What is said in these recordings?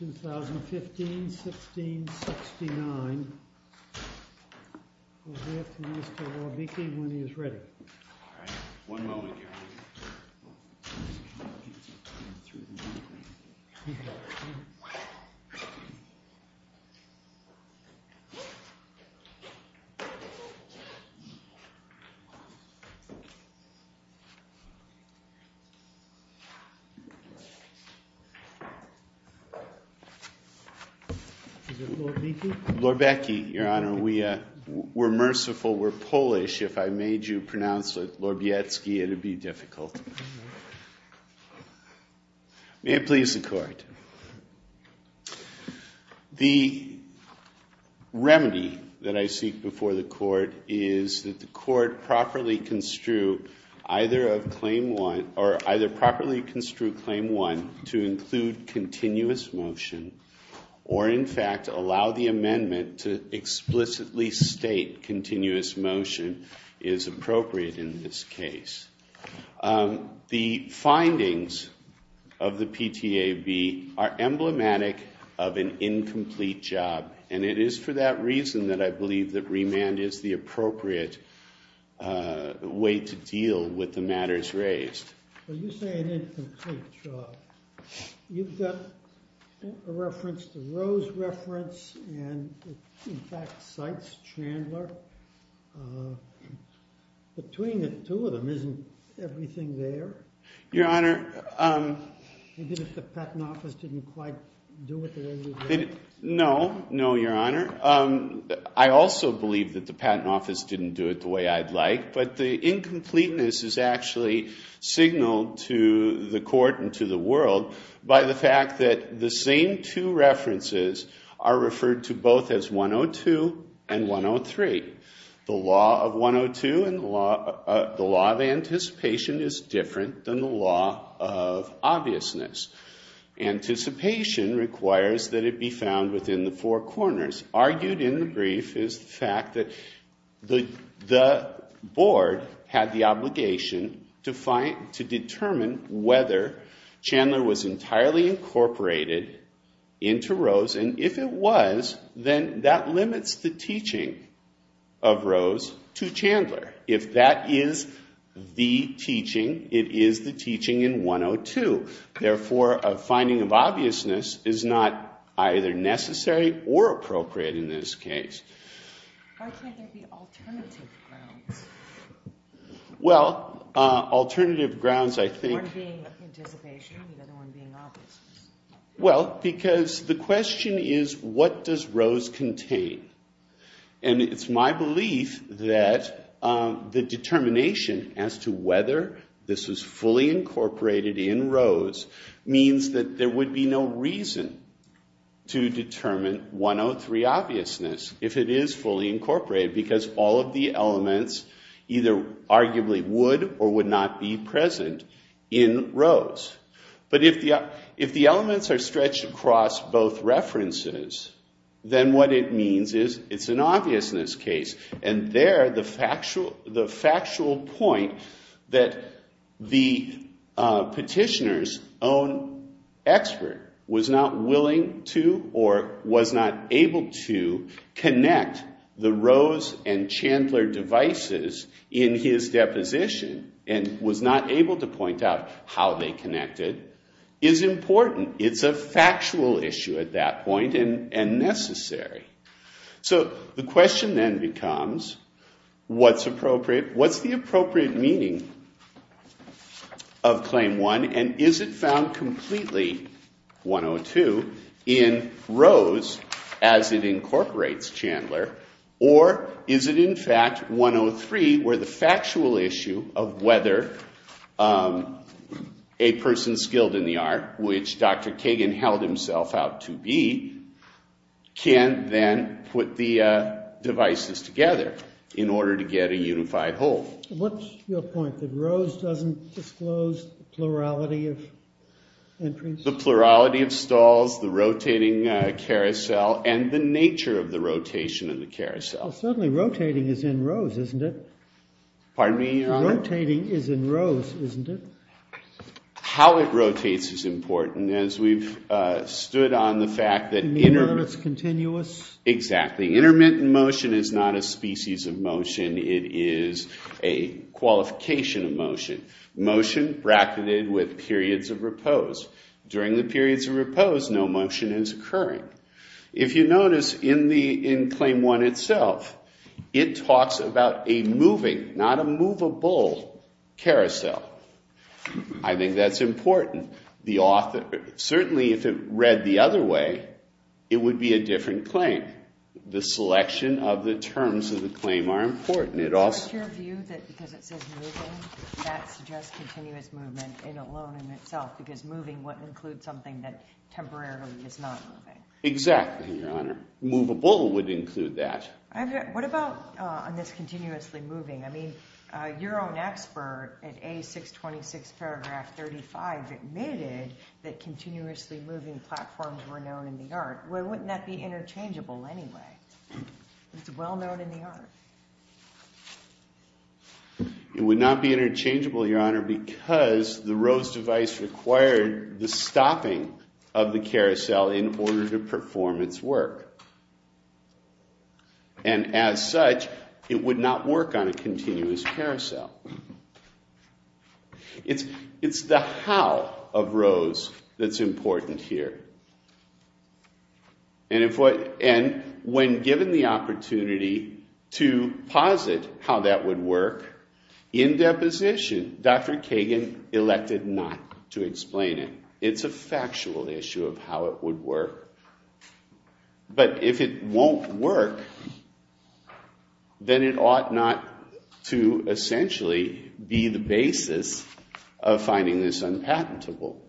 2015-16-69 We'll hear from Mr. Wawiecki when he is ready. Mr. Wawiecki, we're merciful, we're Polish. If I made you pronounce it Lorbecki, it would be difficult. May it please the Court. The remedy that I seek before the Court is that the Court properly construe either of Claim 1 or either properly construe Claim 1 to include continuous motion or, in fact, allow the amendment to explicitly state continuous motion is appropriate in this case. The findings of the PTAB are emblematic of an incomplete job, and it is for that reason that I believe that remand is the appropriate way to deal with the matters raised. Well, you say an incomplete job. You've got a reference to Roe's reference and, in fact, Cite's Chandler. Between the two of them, isn't everything there? Your Honor. Even if the Patent Office didn't quite do it the way you'd like? to the Court and to the world by the fact that the same two references are referred to both as 102 and 103. The law of 102 and the law of anticipation is different than the law of obviousness. Anticipation requires that it be found within the four corners. Argued in the brief is the fact that the Board had the obligation to determine whether Chandler was entirely incorporated into Roe's, and if it was, then that limits the teaching of Roe's to Chandler. If that is the teaching, it is the teaching in 102. Therefore, a finding of obviousness is not either necessary or appropriate in this case. Why can't there be alternative grounds? Well, alternative grounds, I think— One being anticipation, the other one being obviousness. Well, because the question is, what does Roe's contain? And it's my belief that the determination as to whether this is fully incorporated in Roe's means that there would be no reason to determine 103 obviousness if it is fully incorporated, because all of the elements either arguably would or would not be present in Roe's. But if the elements are stretched across both references, then what it means is it's an obviousness case. And there, the factual point that the petitioner's own expert was not willing to or was not able to connect the Roe's and Chandler devices in his deposition and was not able to point out how they connected is important. It's a factual issue at that point and necessary. So the question then becomes, what's appropriate? What's the appropriate meaning of Claim 1? And is it found completely, 102, in Roe's as it incorporates Chandler? Or is it, in fact, 103, where the factual issue of whether a person skilled in the art, which Dr. Kagan held himself out to be, can then put the devices together in order to get a unified whole? What's your point, that Roe's doesn't disclose the plurality of entries? The plurality of stalls, the rotating carousel, and the nature of the rotation of the carousel. Well, certainly rotating is in Roe's, isn't it? Pardon me, Your Honor? Rotating is in Roe's, isn't it? How it rotates is important, as we've stood on the fact that— You mean that it's continuous? Exactly. Intermittent motion is not a species of motion. It is a qualification of motion, motion bracketed with periods of repose. During the periods of repose, no motion is occurring. If you notice, in Claim 1 itself, it talks about a moving, not a movable, carousel. I think that's important. Certainly, if it read the other way, it would be a different claim. The selection of the terms of the claim are important. What's your view, that because it says moving, that suggests continuous movement alone in itself, because moving wouldn't include something that temporarily is not moving? Exactly, Your Honor. Movable would include that. What about on this continuously moving? I mean, your own expert at A626 paragraph 35 admitted that continuously moving platforms were known in the art. Why wouldn't that be interchangeable anyway? It's well known in the art. It would not be interchangeable, Your Honor, because the ROSE device required the stopping of the carousel in order to perform its work. And as such, it would not work on a continuous carousel. It's the how of ROSE that's important here. And when given the opportunity to posit how that would work, in deposition, Dr. Kagan elected not to explain it. It's a factual issue of how it would work. But if it won't work, then it ought not to essentially be the basis of finding this unpatentable.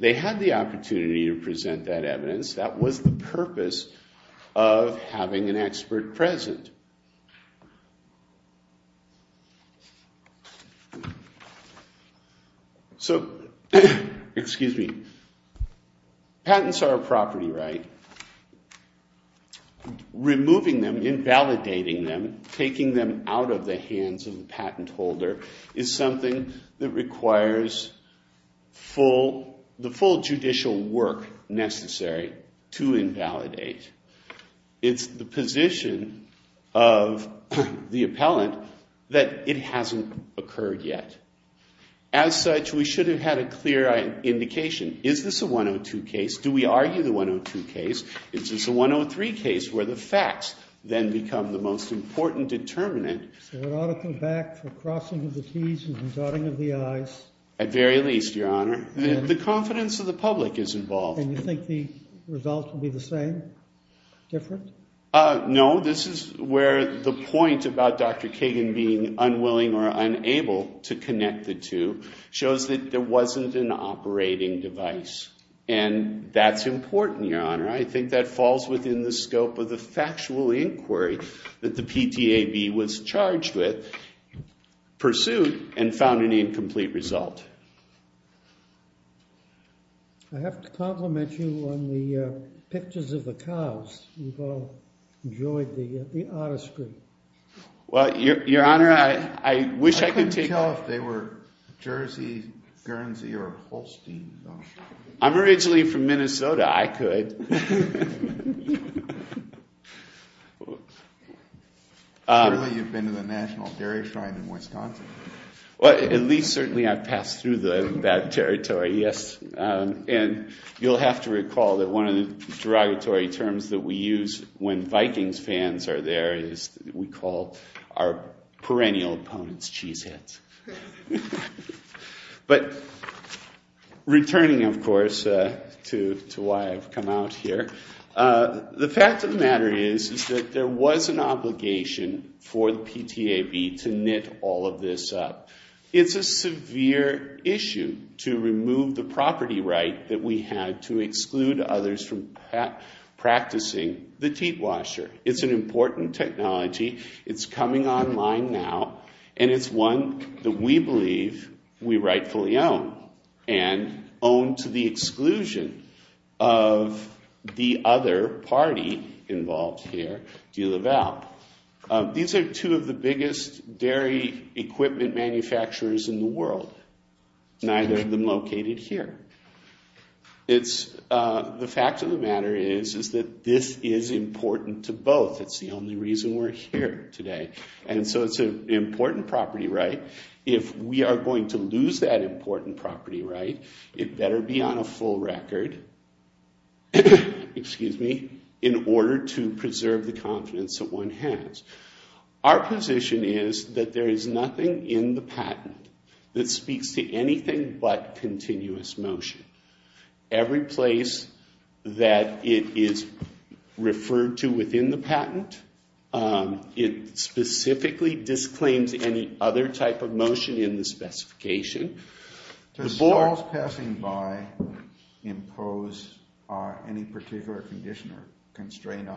They had the opportunity to present that evidence. That was the purpose of having an expert present. So patents are a property right. Removing them, invalidating them, taking them out of the hands of the patent holder is something that requires the full judicial work necessary to invalidate. It's the position of the appellant that it hasn't occurred yet. As such, we should have had a clear indication. Is this a 102 case? Do we argue the 102 case? Is this a 103 case where the facts then become the most important determinant? So an article back for crossing of the T's and dotting of the I's. At very least, Your Honor. The confidence of the public is involved. And you think the results will be the same, different? No. This is where the point about Dr. Kagan being unwilling or unable to connect the two shows that there wasn't an operating device. And that's important, Your Honor. I think that falls within the scope of the factual inquiry that the PTAB was charged with, pursued, and found an incomplete result. I have to compliment you on the pictures of the cows. You've all enjoyed the artistry. Well, Your Honor, I wish I could take— I couldn't tell if they were Jersey, Guernsey, or Holstein. I'm originally from Minnesota. I could. Surely you've been to the National Dairy Shrine in Wisconsin. Well, at least certainly I've passed through that territory, yes. And you'll have to recall that one of the derogatory terms that we use when Vikings fans are there is we call our perennial opponents cheeseheads. But returning, of course, to why I've come out here, the fact of the matter is that there was an obligation for the PTAB to knit all of this up. It's a severe issue to remove the property right that we had to exclude others from practicing the teat washer. It's an important technology. It's coming online now. And it's one that we believe we rightfully own and own to the exclusion of the other party involved here, DeLaval. These are two of the biggest dairy equipment manufacturers in the world. Neither of them located here. The fact of the matter is that this is important to both. It's the only reason we're here today. And so it's an important property right. If we are going to lose that important property right, it better be on a full record in order to preserve the confidence that one has. Our position is that there is nothing in the patent that speaks to anything but continuous motion. Every place that it is referred to within the patent, it specifically disclaims any other type of motion in the specification. Does Charles passing by impose any particular condition or constraint on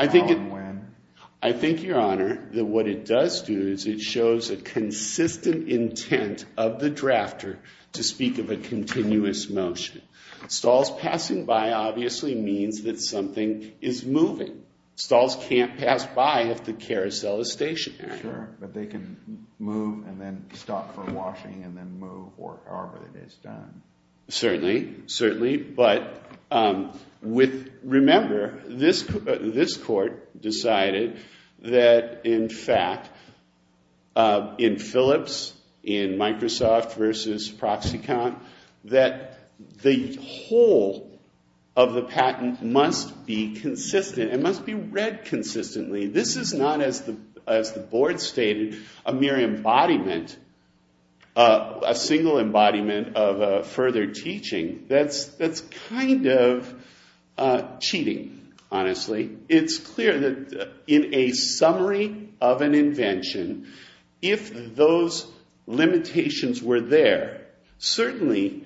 how and when? I think, Your Honor, that what it does do is it shows a consistent intent of the drafter to speak of a continuous motion. Stahls passing by obviously means that something is moving. Stahls can't pass by if the carousel is stationary. Sure, but they can move and then stop for washing and then move or however it is done. Certainly, certainly. But remember, this court decided that, in fact, in Phillips, in Microsoft versus Proxicon, that the whole of the patent must be consistent. It must be read consistently. This is not, as the board stated, a mere embodiment, a single embodiment of further teaching. That's kind of cheating, honestly. It's clear that in a summary of an invention, if those limitations were there, certainly,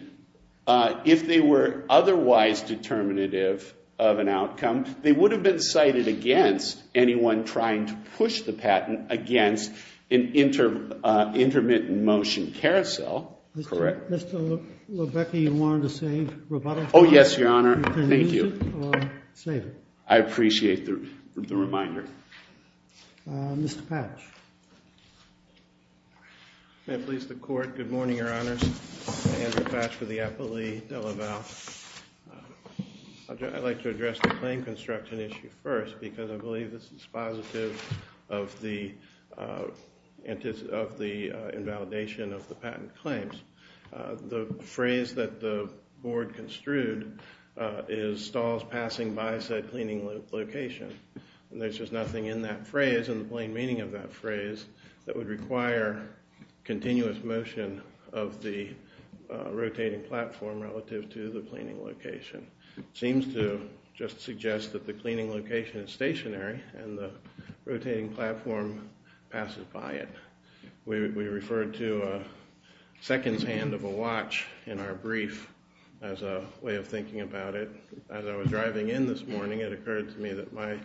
if they were otherwise determinative of an outcome, they would have been cited against anyone trying to push the patent against an intermittent motion carousel. Correct. Mr. Lubecki, you wanted to save Roboto? Oh, yes, Your Honor. Thank you. You can use it or save it. I appreciate the reminder. Mr. Patch. May it please the court. Good morning, Your Honors. Andrew Patch for the Appellee DeLaval. I'd like to address the claim construction issue first because I believe this is positive of the invalidation of the patent claims. The phrase that the board construed is stalls passing by said cleaning location. There's just nothing in that phrase, in the plain meaning of that phrase, that would require continuous motion of the rotating platform relative to the cleaning location. It seems to just suggest that the cleaning location is stationary and the rotating platform passes by it. We referred to seconds hand of a watch in our brief as a way of thinking about it. As I was driving in this morning, it occurred to me that my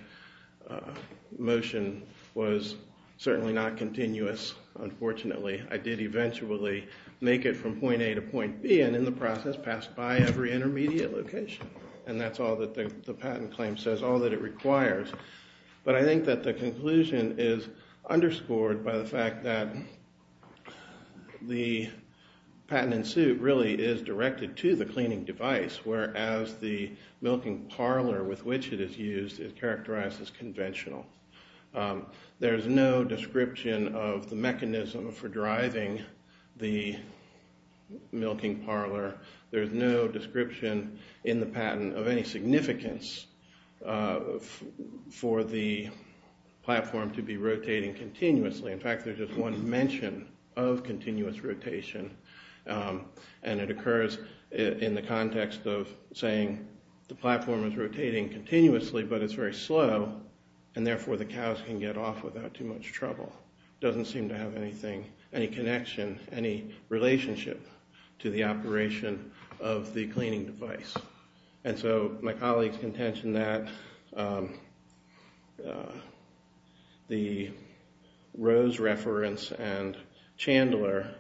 motion was certainly not continuous, unfortunately. I did eventually make it from point A to point B and in the process passed by every intermediate location. And that's all that the patent claim says, all that it requires. But I think that the conclusion is underscored by the fact that the patent in suit really is directed to the cleaning device, whereas the milking parlor with which it is used is characterized as conventional. There's no description of the mechanism for driving the milking parlor. There's no description in the patent of any significance for the platform to be rotating continuously. In fact, there's just one mention of continuous rotation. And it occurs in the context of saying the platform is rotating continuously but it's very slow and therefore the cows can get off without too much trouble. It doesn't seem to have any connection, any relationship to the operation of the cleaning device. And so my colleagues contention that the Rose reference and Chandler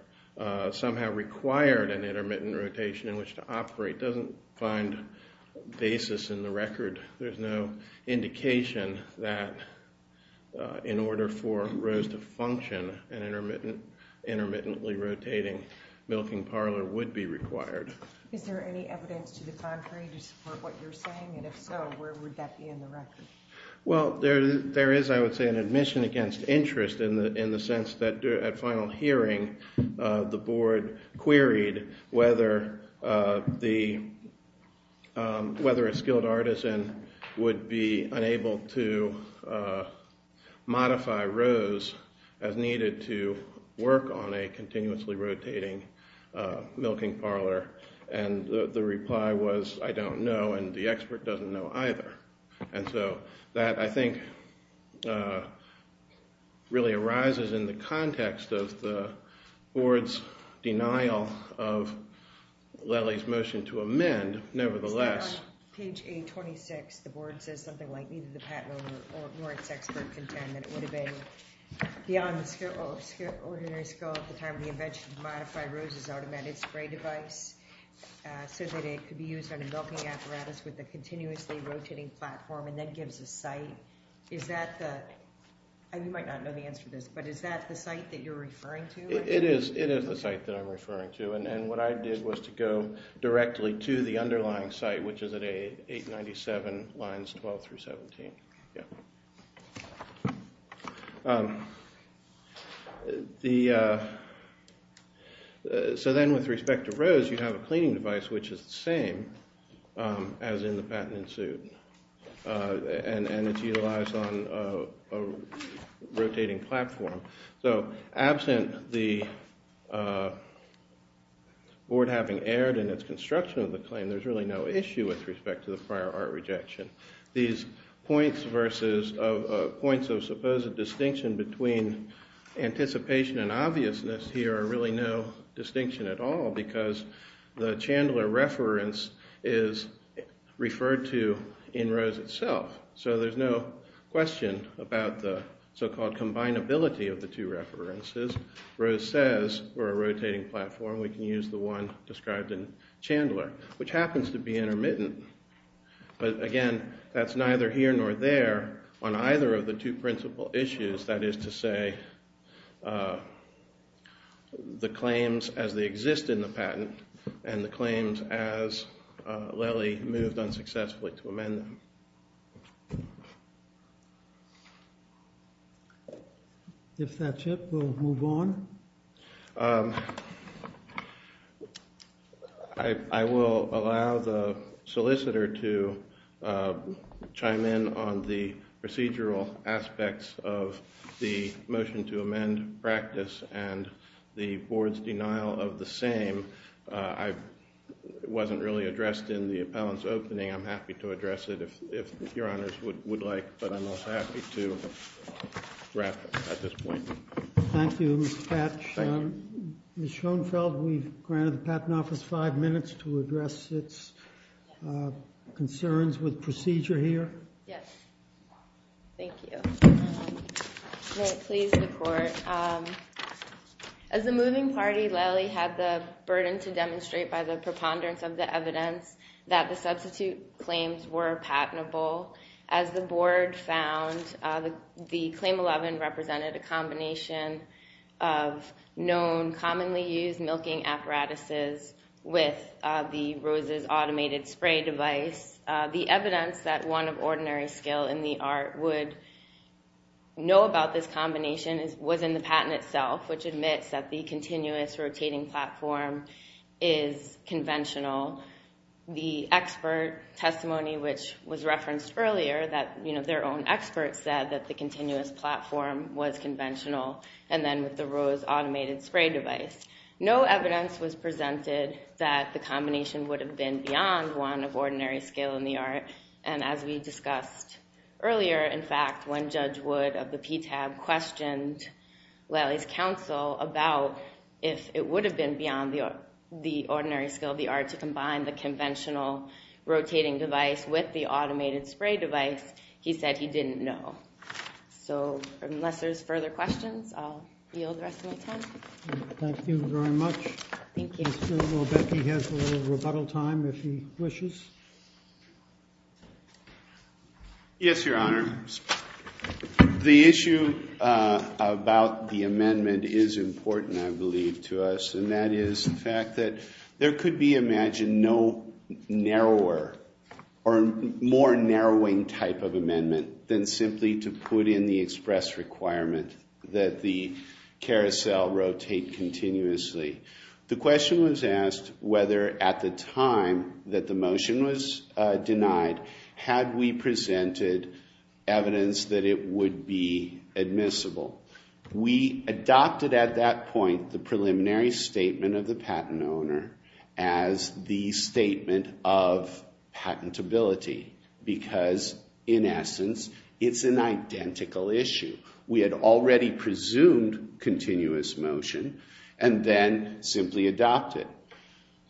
somehow required an intermittent rotation in which to operate doesn't find basis in the record. There's no indication that in order for Rose to function, an intermittently rotating milking parlor would be required. Is there any evidence to the contrary to support what you're saying? And if so, where would that be in the record? Well, there is, I would say, an admission against interest in the sense that at final hearing, the board queried whether a skilled artisan would be unable to modify Rose as needed to work on a continuously rotating milking parlor. And the reply was, I don't know and the expert doesn't know either. And so that, I think, really arises in the context of the board's denial of Lely's motion to amend, nevertheless. On page 826, the board says something like neither the patent nor its expert contend that it would have been beyond the ordinary skill at the time of the invention to modify Rose's automated spray device so that it could be used on a milking apparatus with a continuously rotating platform and then gives a site. Is that the, and you might not know the answer to this, but is that the site that you're referring to? It is the site that I'm referring to. And what I did was to go directly to the underlying site, which is at 897 lines 12 through 17. So then with respect to Rose, you have a cleaning device, which is the same as in the patent ensued. And it's utilized on a rotating platform. So absent the board having erred in its construction of the claim, there's really no issue with respect to the prior art rejection. These points of supposed distinction between anticipation and obviousness here are really no distinction at all because the Chandler reference is referred to in Rose itself. So there's no question about the so-called combinability of the two references. Rose says for a rotating platform, we can use the one described in Chandler, which happens to be intermittent. But again, that's neither here nor there on either of the two principal issues. In other words, that is to say the claims as they exist in the patent and the claims as Lely moved unsuccessfully to amend them. If that's it, we'll move on. I will allow the solicitor to chime in on the procedural aspects of the motion to amend practice and the board's denial of the same. It wasn't really addressed in the appellant's opening. I'm happy to address it if your honors would like, but I'm not happy to wrap up at this point. Thank you, Ms. Patch. Ms. Schoenfeld, we've granted the Patent Office five minutes to address its concerns with procedure here. Yes. Thank you. May it please the Court. As the moving party, Lely had the burden to demonstrate by the preponderance of the evidence that the substitute claims were patentable. As the board found, the Claim 11 represented a combination of known, commonly used milking apparatuses with the Rose's automated spray device. The evidence that one of ordinary skill in the art would know about this combination was in the patent itself, which admits that the continuous rotating platform is conventional. The expert testimony, which was referenced earlier, that their own expert said that the continuous platform was conventional, and then with the Rose automated spray device. No evidence was presented that the combination would have been beyond one of ordinary skill in the art, and as we discussed earlier, in fact, when Judge Wood of the PTAB questioned Lely's counsel about if it would have been beyond the ordinary skill of the art to combine the conventional rotating device with the automated spray device, he said he didn't know. So, unless there's further questions, I'll yield the rest of my time. Thank you very much. Thank you. I'll bet he has a little rebuttal time, if he wishes. Yes, Your Honor. The issue about the amendment is important, I believe, to us, and that is the fact that there could be, imagine, no narrower or more narrowing type of amendment than simply to put in the express requirement that the carousel rotate continuously. The question was asked whether, at the time that the motion was denied, had we presented evidence that it would be admissible. We adopted, at that point, the preliminary statement of the patent owner as the statement of patentability, because, in essence, it's an identical issue. We had already presumed continuous motion and then simply adopted.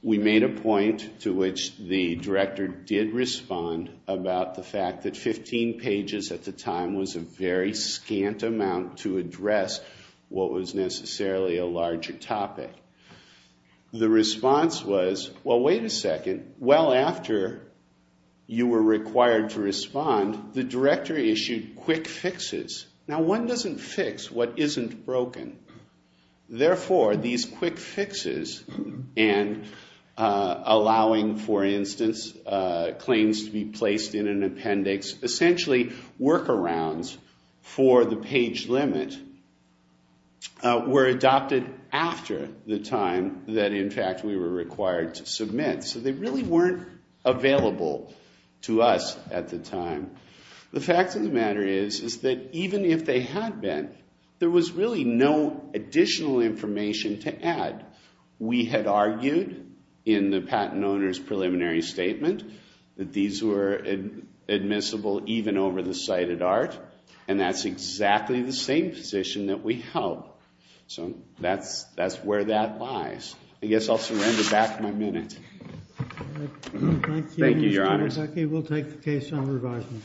We made a point to which the director did respond about the fact that 15 pages at the time was a very scant amount to address what was necessarily a larger topic. The response was, well, wait a second. Well after you were required to respond, the director issued quick fixes. Now one doesn't fix what isn't broken. Therefore, these quick fixes and allowing, for instance, claims to be placed in an appendix, essentially workarounds for the page limit, were adopted after the time that, in fact, we were required to submit. So they really weren't available to us at the time. The fact of the matter is that, even if they had been, there was really no additional information to add. We had argued in the patent owner's preliminary statement that these were admissible even over the cited art, and that's exactly the same position that we held. So that's where that lies. I guess I'll surrender back my minute. Thank you, Your Honor. Thank you. We'll take the case on revision.